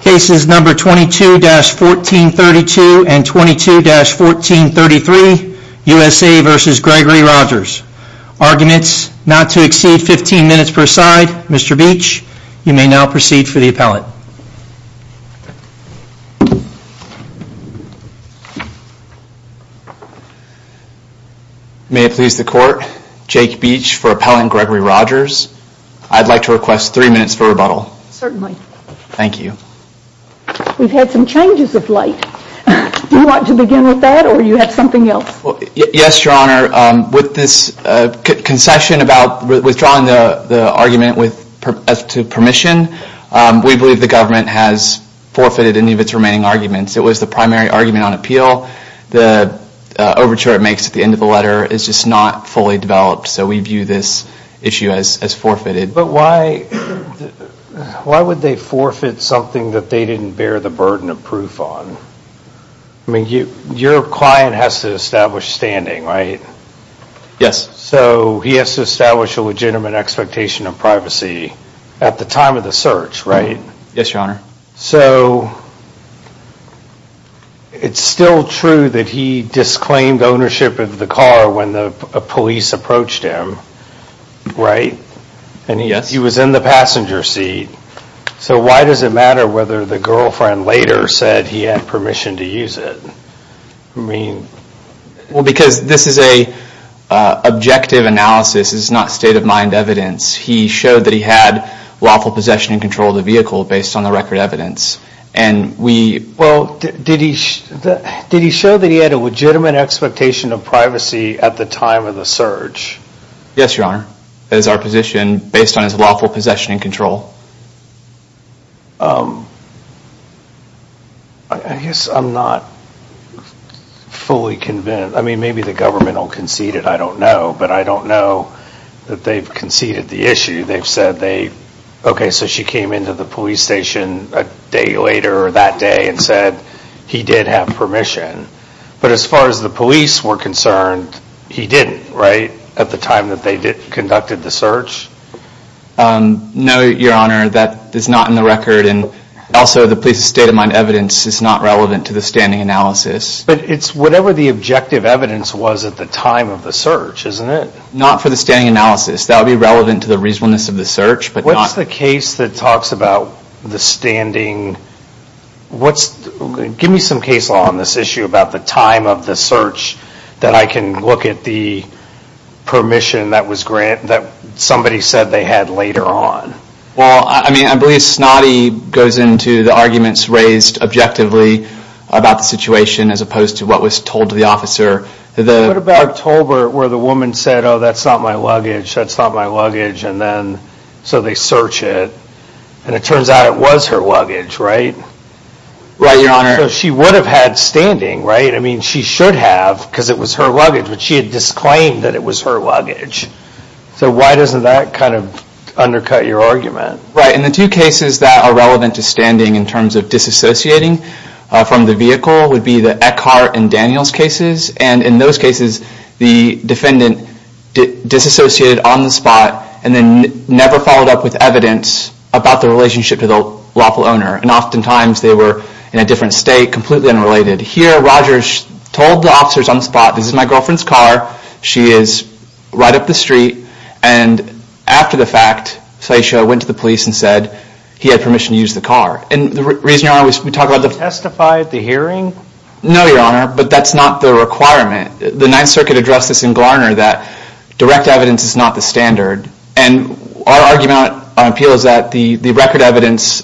Cases number 22-1432 and 22-1433, USA v. Gregory Rogers. Arguments not to exceed 15 minutes per side. Mr. Beach, you may now proceed for the appellate. May it please the court, Jake Beach for appellant Gregory Rogers. I'd like to request three minutes for rebuttal. Certainly. Thank you. We've had some changes of late. Do you want to begin with that or do you have something else? Yes, your honor. With this concession about withdrawing the argument to permission, we believe the government has forfeited any of its remaining arguments. It was the primary argument on appeal. The overture it makes at the end of the letter is just not fully developed. So we view this issue as forfeited. But why would they forfeit something that they didn't bear the burden of proof on? Your client has to establish standing, right? Yes. So he has to establish a legitimate expectation of privacy at the time of the search, right? Yes, your honor. It's still true that he disclaimed ownership of the car when the police approached him, right? Yes. He was in the passenger seat. So why does it matter whether the girlfriend later said he had permission to use it? Well, because this is an objective analysis, it's not state of mind evidence. He showed that he had lawful possession and control of the vehicle based on the record evidence. Well, did he show that he had a legitimate expectation of privacy at the time of the search? Yes, your honor. That is our position based on his lawful possession and control. I guess I'm not fully convinced. I mean, maybe the government will concede it, I don't know. But I don't know that they've conceded the issue. They've said they, okay, so she came into the police station a day later that day and said he did have permission. But as far as the police were concerned, he didn't, right? At the time that they conducted the search? No, your honor. That is not in the record and also the police's state of mind evidence is not relevant to the standing analysis. But it's whatever the objective evidence was at the time of the search, isn't it? Not for the standing analysis. That would be relevant to the reasonableness of the search, but not... What's the case that talks about the standing, give me some case law on this issue about the time of the search that I can look at the permission that somebody said they had later on. Well, I mean, I believe Snoddy goes into the arguments raised objectively about the situation as opposed to what was told to the officer. What about October where the woman said, oh, that's not my luggage, that's not my luggage, and then so they search it and it turns out it was her luggage, right? Right, your honor. So she would have had standing, right? I mean, she should have because it was her luggage, but she had disclaimed that it was her luggage. So why doesn't that kind of undercut your argument? Right, and the two cases that are relevant to standing in terms of disassociating from the vehicle would be the Eckhart and Daniels cases. And in those cases, the defendant disassociated on the spot and then never followed up with evidence about the relationship to the lawful owner. And oftentimes, they were in a different state, completely unrelated. Here, Rogers told the officers on the spot, this is my girlfriend's car, she is right up the street, and after the fact, Satya went to the police and said he had permission to use the car. And the reason, your honor, we talk about the- Testify at the hearing? No, your honor, but that's not the requirement. The Ninth Circuit addressed this in Garner that direct evidence is not the standard. And our argument on appeal is that the record evidence,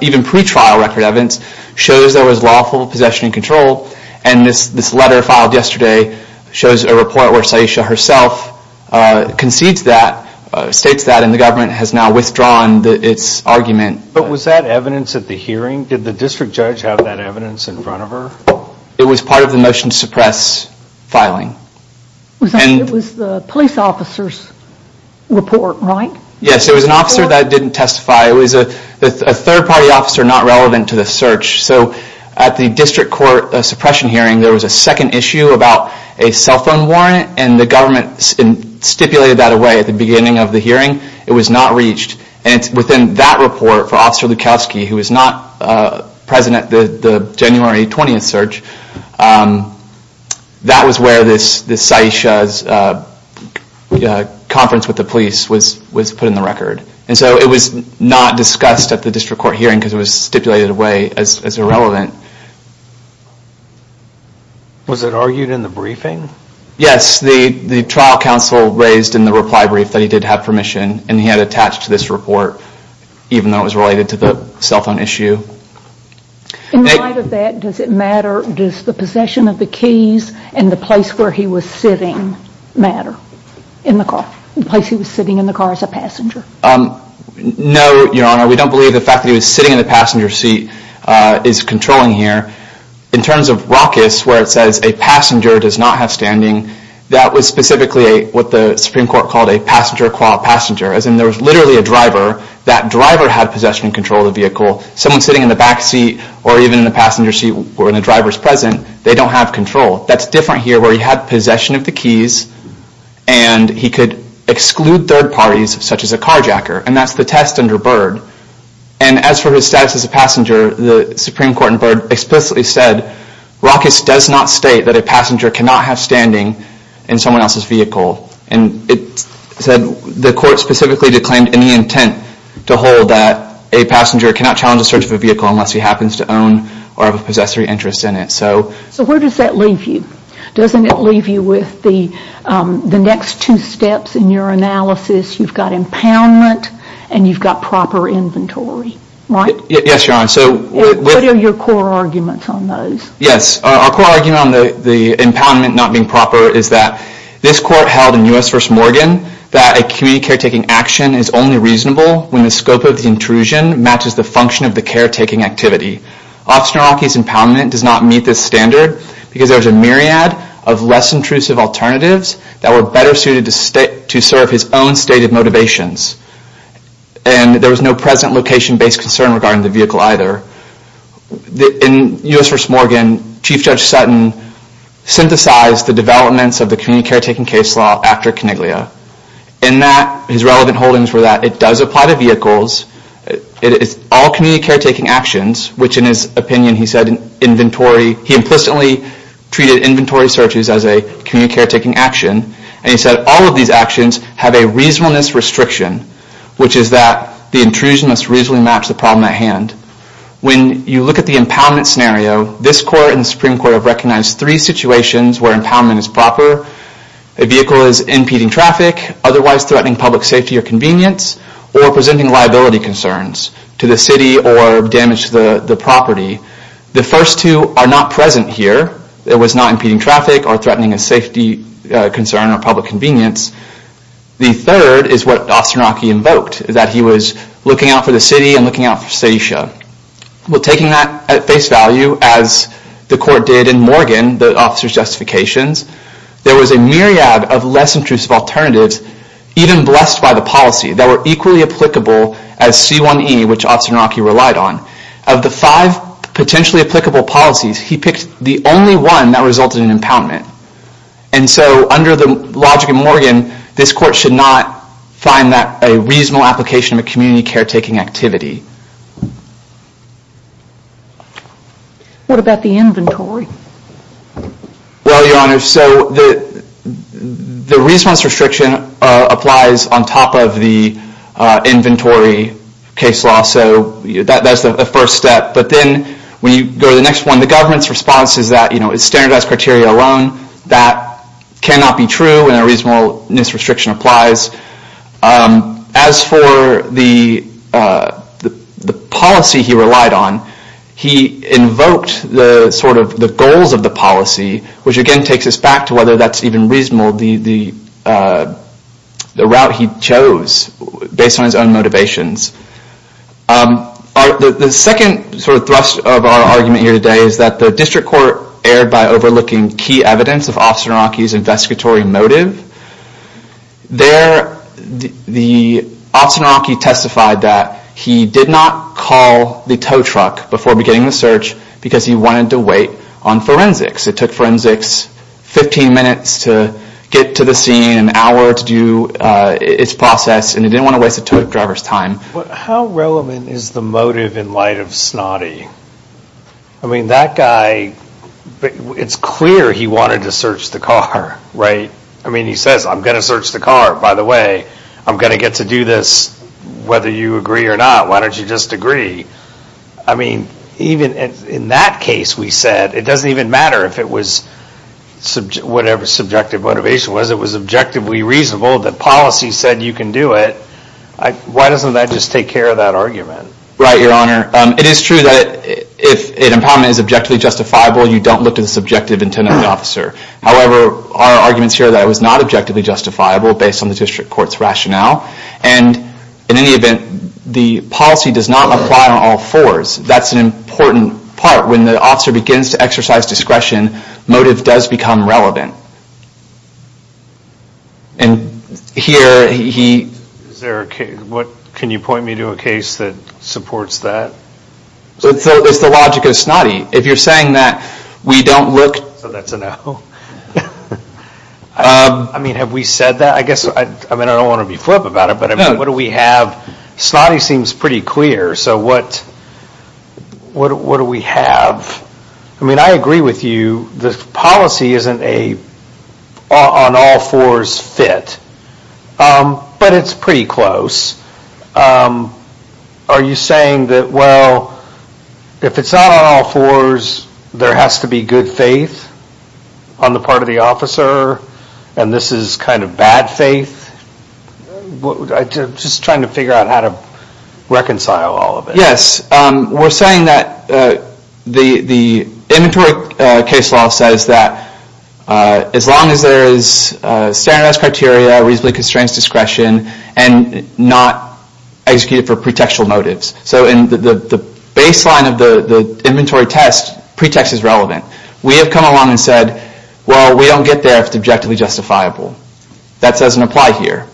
even pre-trial record evidence, shows there was lawful possession and control. And this letter filed yesterday shows a report where Satya herself concedes that, states that, and the government has now withdrawn its argument. But was that evidence at the hearing? Did the district judge have that evidence in front of her? It was part of the motion to suppress filing. It was the police officer's report, right? Yes, it was an officer that didn't testify. It was a third-party officer not relevant to the search. So at the district court suppression hearing, there was a second issue about a cell phone warrant and the government stipulated that away at the beginning of the hearing. It was not reached. And it's within that report for Officer Lukowski, who was not present at the January 20th search, that was where this Satya's conference with the police was put in the record. And so it was not discussed at the district court hearing because it was stipulated away as irrelevant. Was it argued in the briefing? Yes, the trial counsel raised in the reply brief that he did have permission and he had attached to this report, even though it was related to the cell phone issue. In light of that, does it matter, does the possession of the keys and the place where he was sitting matter? In the car? The place he was sitting in the car as a passenger? No, Your Honor. We don't believe the fact that he was sitting in the passenger seat is controlling here. In terms of raucous, where it says a passenger does not have standing, that was specifically what the Supreme Court called a passenger qual passenger, as in there was literally a driver. That driver had possession and control of the vehicle. Someone sitting in the back seat or even in the passenger seat where the driver is present, they don't have control. That's different here where he had possession of the keys and he could exclude third parties such as a carjacker, and that's the test under Byrd. And as for his status as a passenger, the Supreme Court in Byrd explicitly said, raucous does not state that a passenger cannot have standing in someone else's vehicle. And it said the court specifically declaimed any intent to hold that a passenger cannot challenge the search of a vehicle unless he happens to own or have a possessory interest in it. So where does that leave you? Doesn't it leave you with the next two steps in your analysis? You've got impoundment and you've got proper inventory, right? Yes, Your Honor. So what are your core arguments on those? Yes, our core argument on the impoundment not being proper is that this court held in U.S. v. Morgan that a community caretaking action is only reasonable when the scope of the intrusion matches the function of the caretaking activity. Officer Naraki's impoundment does not meet this standard because there's a myriad of less intrusive alternatives that were better suited to serve his own stated motivations. And there was no present location-based concern regarding the vehicle either. In U.S. v. Morgan, Chief Judge Sutton synthesized the developments of the community caretaking case law after Coniglia in that his relevant holdings were that it does apply to vehicles, it is all community caretaking actions, which in his opinion he said he implicitly treated inventory searches as a community caretaking action, and he said all of these actions have a reasonableness restriction, which is that the intrusion must reasonably match the problem at hand. When you look at the impoundment scenario, this court and the Supreme Court have recognized three situations where impoundment is proper. A vehicle is impeding traffic, otherwise threatening public safety or convenience, or presenting liability concerns to the city or damage to the property. The first two are not present here. It was not impeding traffic or threatening a safety concern or public convenience. The third is what Officer Naraki invoked, that he was looking out for the city and looking out for Saisha. Taking that at face value, as the court did in Morgan, the officer's justifications, there was a myriad of less intrusive alternatives, even blessed by the policy, that were equally applicable as C1E, which Officer Naraki relied on. Of the five potentially applicable policies, he picked the only one that resulted in impoundment. Under the logic of Morgan, this court should not find that a reasonable application of community caretaking activity. What about the inventory? Well, Your Honor, so the reasonableness restriction applies on top of the inventory case law, so that's the first step, but then when you go to the next one, the government's response is that it's standardized criteria alone. That cannot be true when a reasonableness restriction applies. As for the policy he relied on, he invoked the goals of the policy, which again takes us back to whether that's even reasonable, the route he chose based on his own motivations. The second thrust of our argument here today is that the district court erred by overlooking key evidence of Officer Naraki's investigatory motive. There, Officer Naraki testified that he did not call the tow truck before beginning the search because he wanted to wait on forensics. It took forensics 15 minutes to get to the scene, an hour to do its process, and he didn't want to waste the tow truck driver's time. How relevant is the motive in light of Snoddy? I mean that guy, it's clear he wanted to search the car, right? I mean he says, I'm going to search the car, by the way, I'm going to get to do this whether you agree or not, why don't you just agree? I mean, even in that case we said, it doesn't even matter if it was whatever subjective motivation was, it was objectively reasonable, the policy said you can do it, why doesn't that just take care of that argument? Right, Your Honor. It is true that if an impoundment is objectively justifiable, you don't look to the subjective intent of the officer. However, our argument is here that it was not objectively justifiable based on the district court's rationale, and in any event, the policy does not apply on all fours. That's an important part, when the officer begins to exercise discretion, motive does become relevant. And here, he... Can you point me to a case that supports that? It's the logic of Snoddy. If you're saying that we don't look... So that's a no. I mean, have we said that? I mean, I don't want to be flip about it, but what do we have? Snoddy seems pretty clear, so what do we have? I mean, I agree with you, the policy isn't an on all fours fit, but it's pretty close. Are you saying that, well, if it's not on all fours, there has to be good faith on the part of the officer, and this is kind of bad faith? Just trying to figure out how to reconcile all of it. Yes. We're saying that the inventory case law says that as long as there is standardized criteria, reasonably constrained discretion, and not executed for pretextual motives. So in the baseline of the inventory test, pretext is relevant. We have come along and said, well, we don't get there if it's objectively justifiable. That doesn't apply here,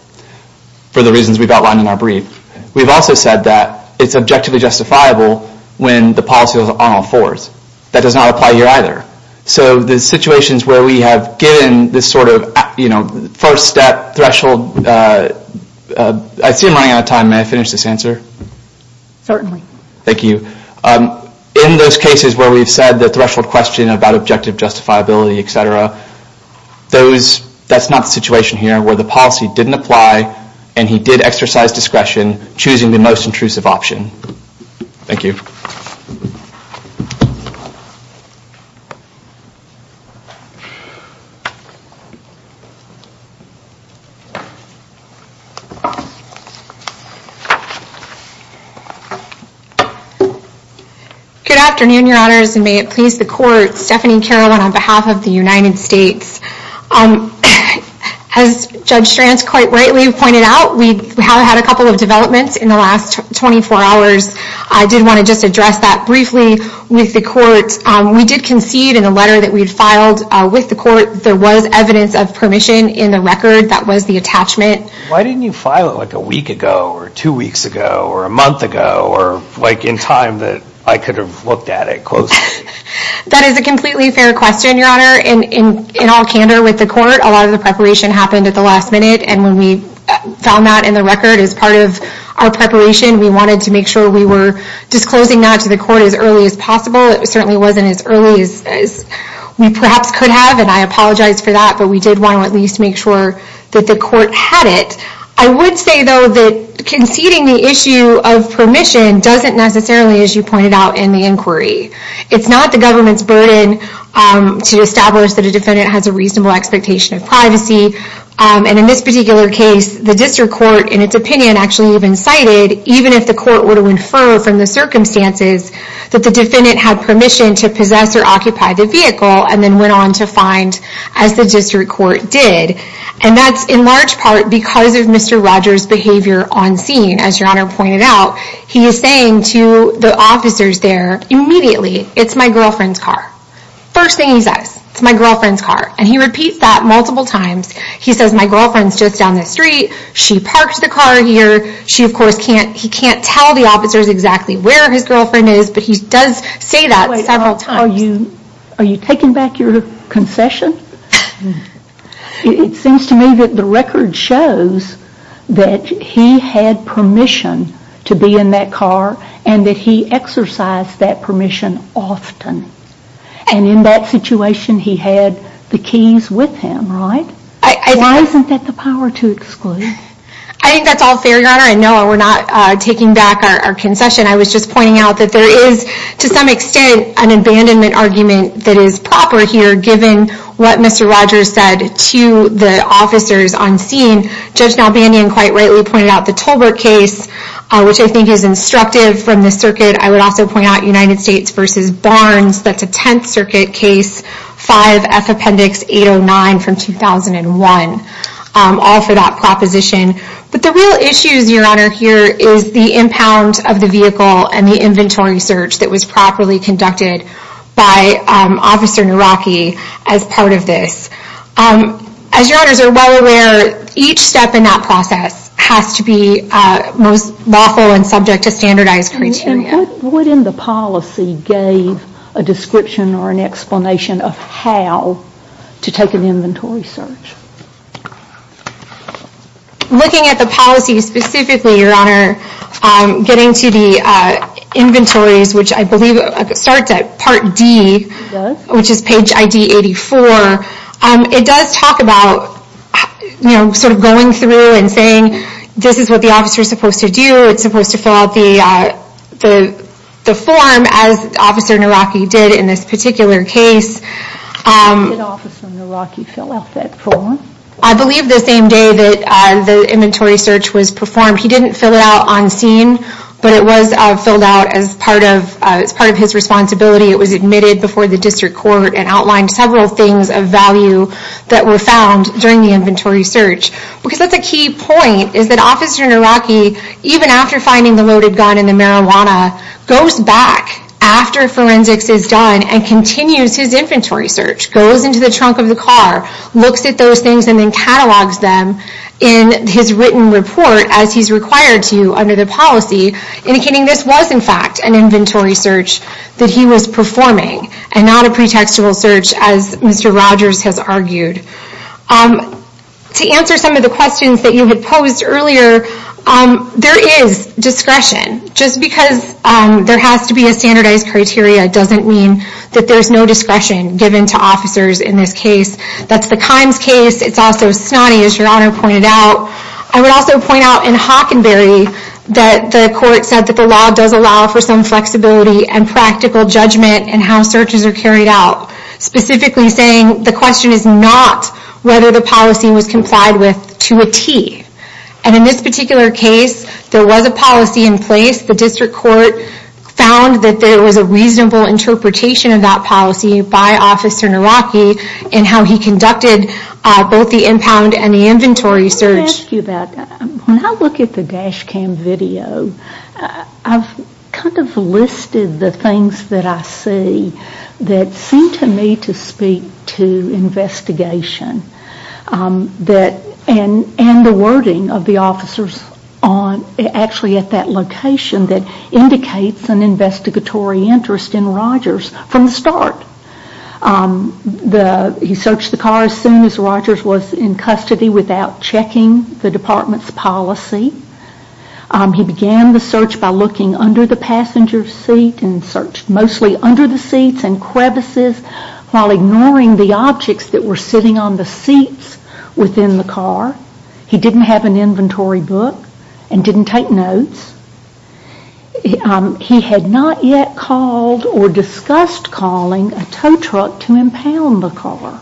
for the reasons we've outlined in our brief. We've also said that it's objectively justifiable when the policy is on all fours. That does not apply here either. So the situations where we have given this sort of first step threshold, I see I'm running out of time. May I finish this answer? Certainly. Thank you. In those cases where we've said the threshold question about objective justifiability, etc., that's not the situation here, where the policy didn't apply, and he did exercise discretion, choosing the most intrusive option. Thank you. Good afternoon, your honors, and may it please the court. Stephanie Carolin on behalf of the United States. As Judge Stranz quite rightly pointed out, we have had a couple of developments in the last 24 hours. I did want to just address that briefly with the court. We did concede in a letter that we had filed with the court, there was evidence of permission in the record that was the attachment. Why didn't you file it like a week ago, or two weeks ago, or a month ago, or like in time that I could have looked at it closely? That is a completely fair question, your honor. In all candor with the court, a lot of the preparation happened at the last minute, and when we found that in the record as part of our preparation, we wanted to make sure we were disclosing that to the court as early as possible. It certainly wasn't as early as we perhaps could have, and I apologize for that, but we did want to at least make sure that the court had it. I would say, though, that conceding the issue of permission doesn't necessarily, as you pointed out in the inquiry, it's not the government's burden to establish that a defendant has a reasonable expectation of privacy, and in this particular case, the district court, in its opinion, actually even cited, even if the court were to infer from the circumstances, that the defendant had permission to possess or occupy the vehicle, and then went on to find, as the district court did, and that's in large part because of Mr. Rogers' behavior on scene. As your honor pointed out, he is saying to the officers there, immediately, it's my girlfriend's car. First thing he says, it's my girlfriend's car, and he repeats that multiple times. He says, my girlfriend's just down the street. She parked the car here. He can't tell the officers exactly where his girlfriend is, but he does say that several times. Are you taking back your concession? It seems to me that the record shows that he had permission to be in that car, and that he exercised that permission often, and in that situation, he had the keys with him, right? Why isn't that the power to exclude? I think that's all fair, your honor, and no, we're not taking back our concession. I was just pointing out that there is, to some extent, an abandonment argument that is proper here, given what Mr. Rogers said to the officers on scene. Judge Nalbandian quite rightly pointed out the Tolbert case, which I think is instructive from the circuit. I would also point out United States v. Barnes. That's a Tenth Circuit case, 5F Appendix 809 from 2001. All for that proposition, but the real issues, your honor, here is the impound of the vehicle, and the inventory search that was properly conducted by Officer Naraki as part of this. As your honors are well aware, each step in that process has to be most lawful, and subject to standardized criteria. What in the policy gave a description or an explanation of how to take an inventory search? Looking at the policy specifically, your honor, getting to the inventories, which I believe starts at Part D, which is page ID 84. It does talk about going through and saying, this is what the officer is supposed to do. It's supposed to fill out the form, as Officer Naraki did in this particular case. When did Officer Naraki fill out that form? I believe the same day that the inventory search was performed. He didn't fill it out on scene, but it was filled out as part of his responsibility. It was admitted before the district court and outlined several things of value that were found during the inventory search. Because that's a key point, is that Officer Naraki, even after finding the loaded gun and the marijuana, goes back after forensics is done, and continues his inventory search. Goes into the trunk of the car, looks at those things, and then catalogs them in his written report, as he's required to under the policy, indicating this was in fact an inventory search that he was performing, and not a pretextual search, as Mr. Rogers has argued. To answer some of the questions that you had posed earlier, there is discretion. Just because there has to be a standardized criteria, doesn't mean that there's no discretion given to officers in this case. That's the Kimes case, it's also Snotty, as your Honor pointed out. I would also point out in Hockenberry, that the court said the law does allow for some flexibility and practical judgment in how searches are carried out. Specifically saying, the question is not whether the policy was complied with to a T. And in this particular case, there was a policy in place, the district court found that there was a reasonable interpretation of that policy by Officer Naraki, in how he conducted both the impound and the inventory search. Let me ask you about that. When I look at the dash cam video, I've kind of listed the things that I see that seem to me to speak to investigation. And the wording of the officers actually at that location that indicates an investigatory interest in Rogers from the start. He searched the car as soon as Rogers was in custody without checking the department's policy. He began the search by looking under the passenger seat and searched mostly under the seats and crevices while ignoring the objects that were sitting on the seats within the car. He didn't have an inventory book and didn't take notes. He had not yet called or discussed calling a tow truck to impound the car.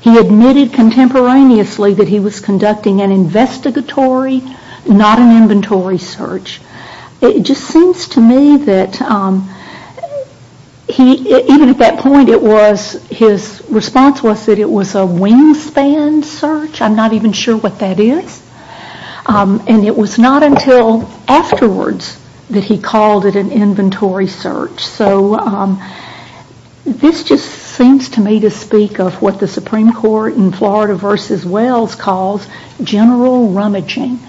He admitted contemporaneously that he was conducting an investigatory, not an inventory search. It just seems to me that even at that point, his response was that it was a wingspan search. I'm not even sure what that is. And it was not until afterwards that he called it an inventory search. This just seems to me to speak of what the Supreme Court in Florida v. Wells calls general rummaging.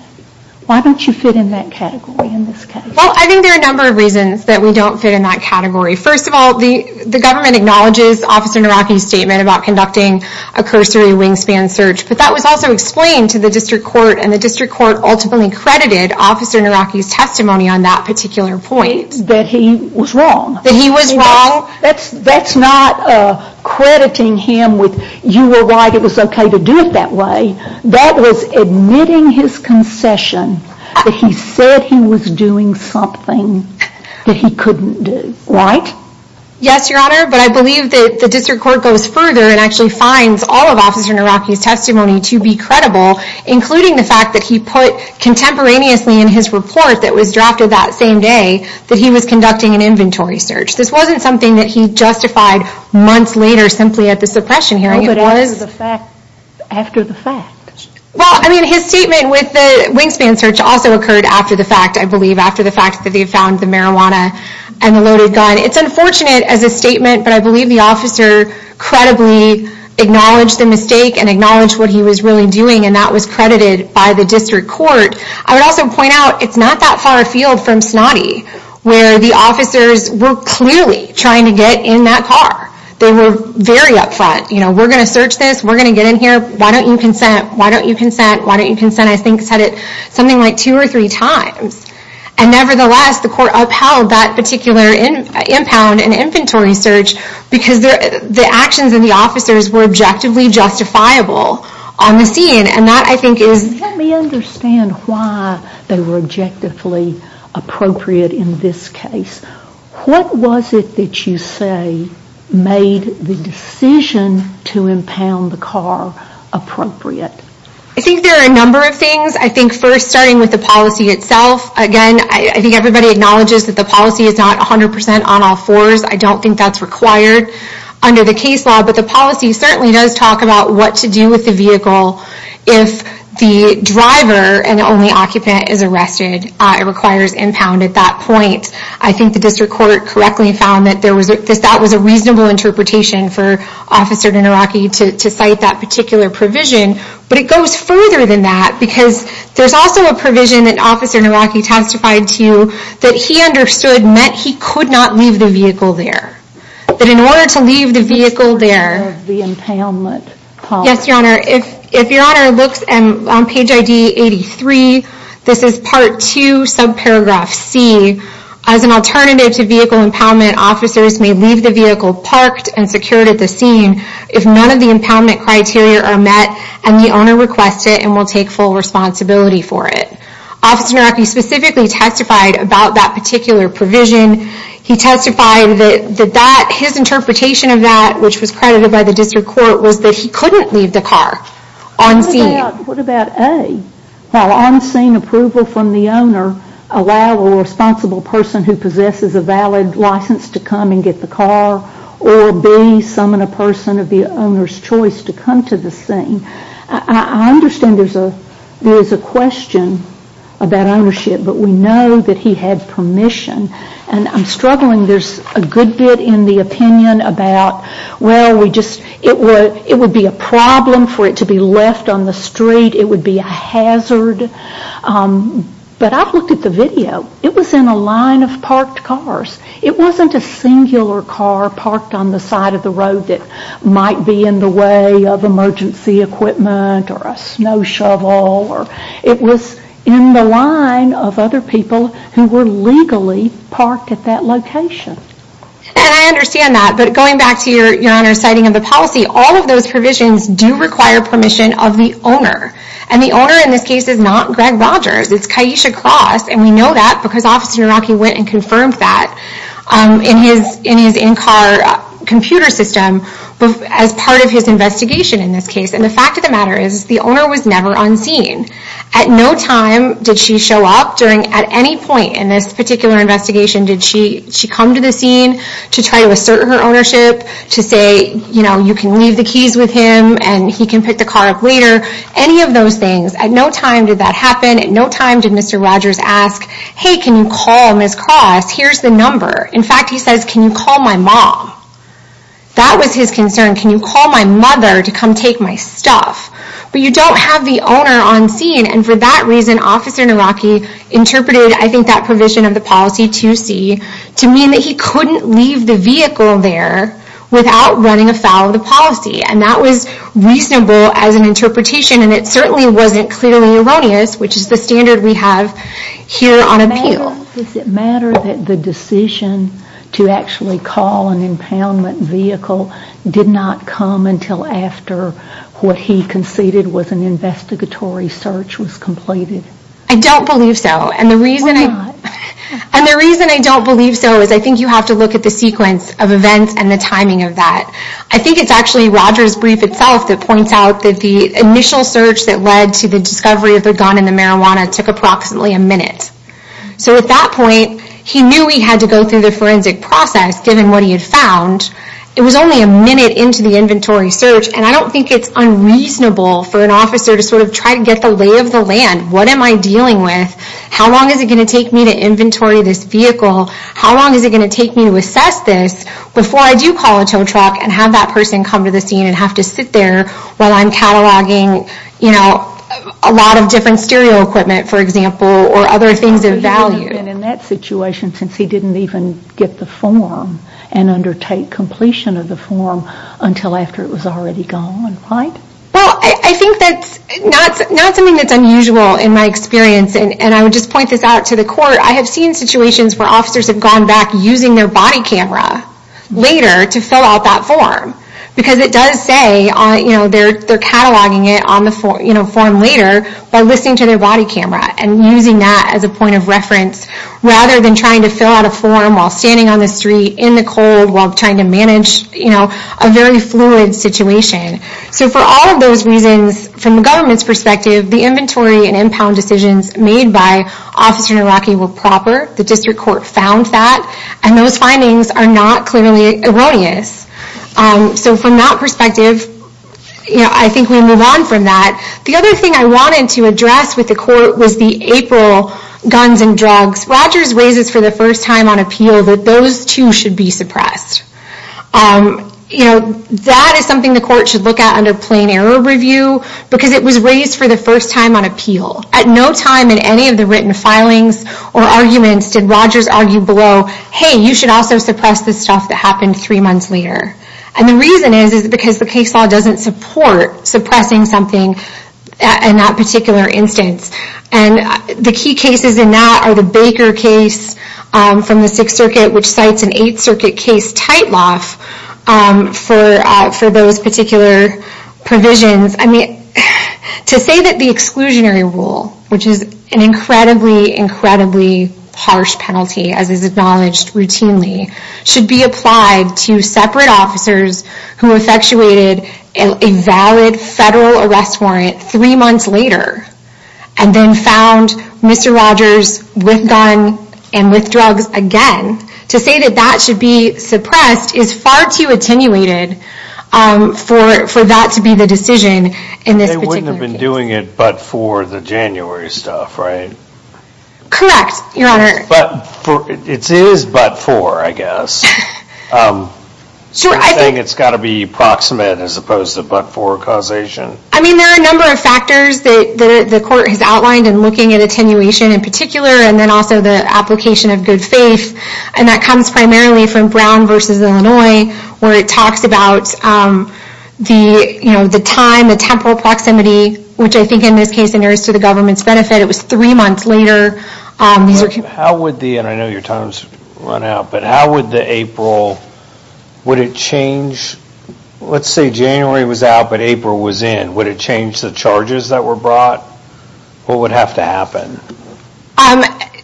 Why don't you fit in that category in this case? Well, I think there are a number of reasons that we don't fit in that category. First of all, the government acknowledges Officer Naraki's statement about conducting a cursory wingspan search. But that was also explained to the district court and the district court ultimately credited Officer Naraki's testimony on that particular point. That he was wrong? That he was wrong? That's not crediting him with, you were right, it was okay to do it that way. That was admitting his concession. That he said he was doing something that he couldn't do. Right? Yes, Your Honor, but I believe that the district court goes further and actually finds all of Officer Naraki's testimony to be credible including the fact that he put contemporaneously in his report that was drafted that same day that he was conducting an inventory search. This wasn't something that he justified months later simply at the suppression hearing. It was after the fact. Well, I mean, his statement with the wingspan search also occurred after the fact, I believe, after the fact that they found the marijuana and the loaded gun. It's unfortunate as a statement but I believe the officer credibly acknowledged the mistake and acknowledged what he was really doing and that was credited by the district court. I would also point out, it's not that far afield from Snotty where the officers were clearly trying to get in that car. They were very up front. You know, we're going to search this. We're going to get in here. Why don't you consent? Why don't you consent? Why don't you consent? I think said it something like two or three times. And nevertheless, the court upheld that particular impound and inventory search because the actions of the officers were objectively justifiable on the scene and that I think is... Let me understand why they were objectively appropriate in this case. What was it that you say made the decision to impound the car appropriate? I think there are a number of things. I think first, starting with the policy itself. Again, I think everybody acknowledges that the policy is not 100% on all fours. I don't think that's required under the case law but the policy certainly does talk about what to do with the vehicle if the driver and only occupant is arrested. It requires impound at that point. I think the district court correctly found that that was a reasonable interpretation for Officer Naraki to cite that particular provision but it goes further than that because there's also a provision that Officer Naraki testified to that he understood meant he could not leave the vehicle there. That in order to leave the vehicle there... Yes, your honor. If your honor looks on page ID 83, this is part 2 subparagraph C, as an alternative to vehicle impoundment officers may leave the vehicle parked and secured at the scene if none of the impoundment criteria are met and the owner requests it and will take full responsibility for it. Officer Naraki specifically testified about that particular provision. He testified that his interpretation of that, which was credited by the district court, was that he couldn't leave the car on scene. What about A? While on scene approval from the owner allow a responsible person who possesses a valid license to come and get the car or B, summon a person of the owner's choice to come to the scene. I understand there's a question about ownership but we know that he had permission and I'm struggling. There's a good bit in the opinion about well, it would be a problem for it to be left on the street. It would be a hazard but I looked at the video. It was in a line of parked cars. It wasn't a singular car parked on the side of the road that might be in the way of emergency equipment or a snow shovel or... It was in the line of other people who were legally parked at that location. I understand that but going back to your honor's citing of the policy, all of those provisions do require permission of the owner. The owner in this case is not Greg Rogers. It's Kiesha Cross and we know that because Officer Naraki went and confirmed that in his in-car computer system as part of his investigation in this case. The fact of the matter is the owner was never on scene. At no time did she show up during at any point in this particular investigation did she come to the scene to try to assert her ownership, to say you can leave the keys with him and he can pick the car up later any of those things. At no time did that happen. At no time did Mr. Rogers ask hey, can you call Ms. Cross? Here's the number. In fact, he says can you call my mom? That was his concern. Can you call my mother to come take my stuff? But you don't have the owner on scene and for that reason Officer Naraki interpreted I think that provision of the policy 2C to mean that he couldn't leave the vehicle there without running afoul of the policy. And that was reasonable as an interpretation and it certainly wasn't clearly erroneous which is the standard we have here on appeal. Does it matter that the decision to actually call an impoundment vehicle did not come until after what he conceded was an investigatory search was completed? I don't believe so. And the reason I don't believe so is I think you have to look at the sequence of events and the timing of that. I think it's actually Rogers' brief itself that points out that the initial search that led to the discovery of the gun and the marijuana took approximately a minute. So at that point he knew he had to go through the forensic process given what he had found. It was only a minute into the inventory search and I don't think it's unreasonable for an officer to sort of try to get the lay of the land. What am I dealing with? How long is it going to take me to assess this before I do call a tow truck and have that person come to the scene and have to sit there while I'm cataloging a lot of different stereo equipment for example or other things of value. But he wouldn't have been in that situation since he didn't even get the form and undertake completion of the form until after it was already gone, right? Well I think that's not something that's unusual in my experience and I would just point this out to the court. I have seen situations where officers have gone back using their body camera later to fill out that form because it does say they're cataloging it on the form later by listening to their body camera and using that as a point of reference rather than trying to fill out a form while standing on the street in the cold while trying to manage a very fluid situation. So for all of those reasons from the government's perspective the inventory and impound decisions made by Officer Naraki were proper. The district court found that and those findings are not clearly erroneous. So from that perspective I think we move on from that. The other thing I wanted to address with the court was the April guns and drugs. Rogers raises for the first time on appeal that those two should be suppressed. That is something the court should look at under plain error review because it was raised for the first time on appeal. At no time in any of the written filings or arguments did Rogers argue below, hey, you should also suppress the stuff that happened three months later. And the reason is because the case law doesn't support suppressing something in that particular instance. The key cases in that are the Baker case from the 6th Circuit which cites an 8th Circuit case tightloff for those particular provisions. To say that the exclusionary rule which is an incredibly harsh penalty as is acknowledged routinely should be applied to separate officers who effectuated a valid federal arrest warrant three months later and then found Mr. Rogers with guns and with drugs again. To say that that should be suppressed is far too attenuated for that to be the decision in this particular case. They wouldn't have been doing it but for the January stuff, right? Correct, your honor. It is but for, I guess. You're saying it's got to be proximate as opposed to but for causation. I mean there are a number of factors that the court has outlined in looking at attenuation in particular and then also the application of good faith and that comes primarily from Brown vs. Illinois where it talks about the time, the temporal proximity, which I think in this case is nearest to the government's benefit it was three months later. How would the, and I know your time has run out, but how would the April, would it change, let's say January was out but April was in would it change the charges that were brought? What would have to happen?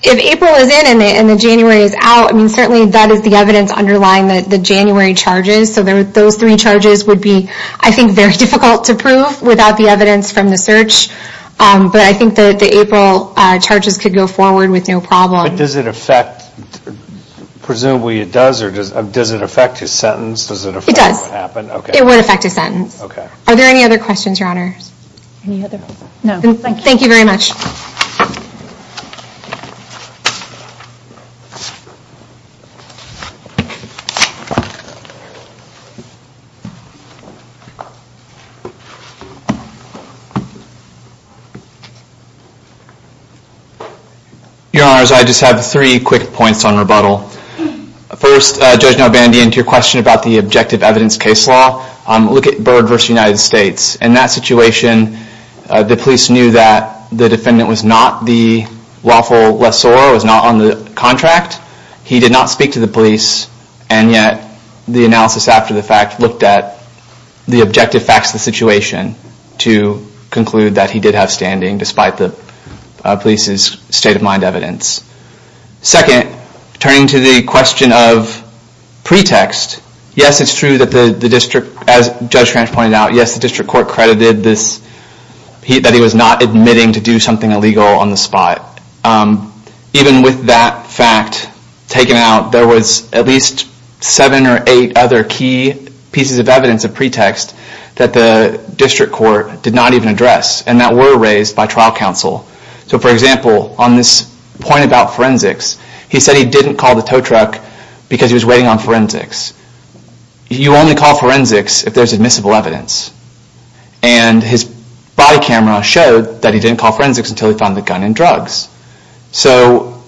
If April is in and January is out certainly that is the evidence underlying the January charges so those three charges would be I think very difficult to prove without the evidence from the search but I think the April charges could go forward with no problem. But does it affect, presumably it does or does it affect his sentence? It does. It would affect his sentence. Are there any other questions, your honor? No, thank you. Thank you very much. Your honors, I just have three quick points on rebuttal. First, Judge Nobandian, to your question about the objective evidence case law look at Byrd vs. United States. In that situation the police knew that the defendant was not the lawful lessor, was not on the contract, he did not speak to the police, and yet the analysis after the fact looked at the objective facts of the situation to conclude that he did have standing despite the police's state of mind evidence. Second, turning to the question of pretext, yes it's true that the district, as Judge Fransch pointed out, yes the district court credited that he was not admitting to do something illegal on the spot. Even with that fact taken out, there was at least seven or eight other key pieces of evidence of pretext that the district court did not even address and that were raised by trial counsel. So for example, on this point about forensics, he said he didn't call the tow truck because he was waiting on forensics. You only call forensics if there's admissible evidence. And his body camera showed that he didn't call forensics until he found the gun and drugs. So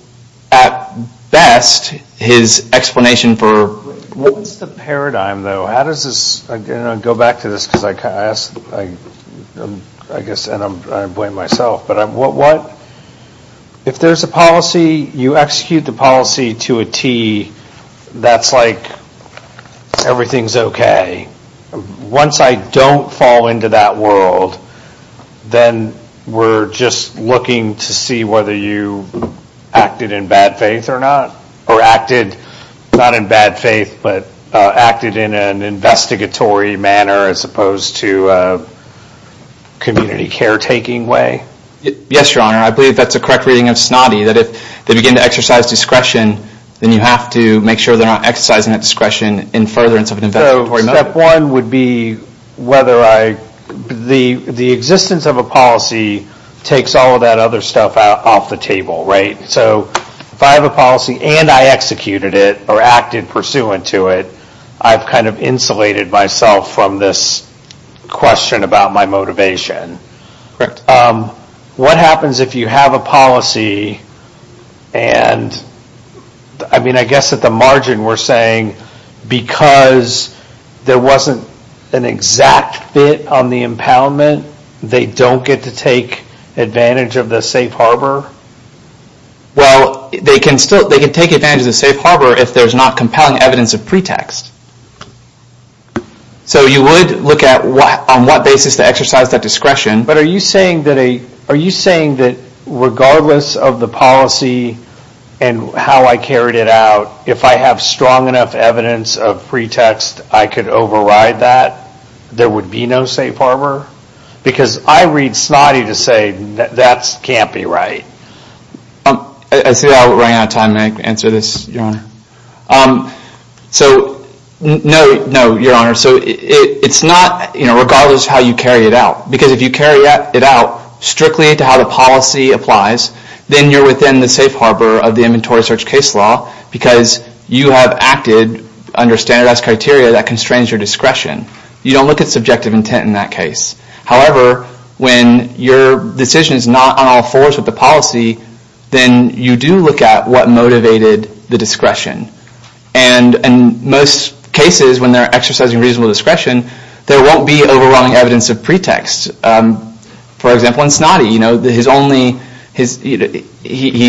at best, his explanation for... What's the paradigm though? How does this, I'm going to go back to this because I guess I blame myself, but what if there's a policy, you execute the policy to a T, that's like everything's okay. Once I don't fall into that world, then we're just looking to see whether you acted in bad faith or not. Or acted not in bad faith, but acted in an investigatory manner as opposed to a community care taking way. Yes, your honor. I believe that's a correct reading of Snotty, that if they begin to exercise discretion, then you have to make sure they're not exercising that discretion in furtherance of an investigatory manner. So step one would be whether I...the existence of a policy takes all of that other stuff off the table, right? So if I have a policy and I executed it or acted pursuant to it, I've kind of insulated myself from this question about my motivation. What happens if you have a policy and I mean I guess at the margin we're saying because there wasn't an exact fit on the impoundment they don't get to take advantage of the safe harbor? Well, they can take advantage of the safe harbor if there's not compelling evidence of pretext. So you would look at on what basis to exercise that discretion. But are you saying that regardless of the policy and how I carried it out, if I have strong enough evidence of pretext I could override that there would be no safe harbor? Because I read Snotty to say that can't be right. I see I ran out of time. May I answer this, Your Honor? No, Your Honor. So it's not regardless how you carry it out. Because if you carry it out strictly to how the policy applies, then you're within the safe harbor of the inventory search case law because you have acted under standardized criteria that constrains your discretion. You don't look at subjective intent in that case. However, when your decision is not on all fours with the policy then you do look at what motivated the discretion. And in most cases when they're exercising reasonable discretion there won't be overwhelming evidence of pretext. For example in Snotty, you know, his only, he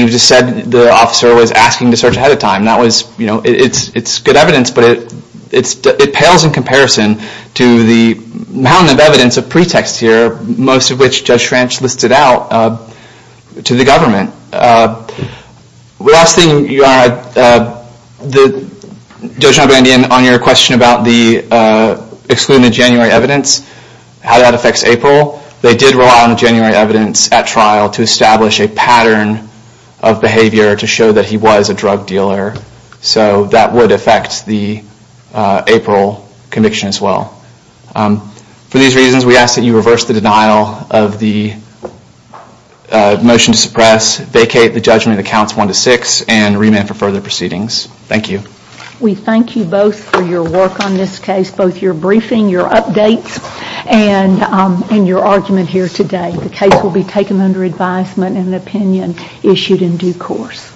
just said that the officer was asking to search ahead of time. That was, you know, it's good evidence but it pales in comparison to the mountain of evidence of pretext here, most of which Judge Schranch listed out to the government. The last thing Your Honor, Judge Nobrandian, on your question about the excluded January evidence, how that affects April, they did rely on the January evidence at trial to establish a pattern of behavior to show that he was a drug dealer so that would affect the April conviction as well. For these reasons, we ask that you reverse the denial of the motion to suppress, vacate the judgment that counts 1-6, and remand for further proceedings. Thank you. We thank you both for your work on this case, both your briefing, your updates, and your argument here today. The case will be taken under advisement and an opinion issued in due course.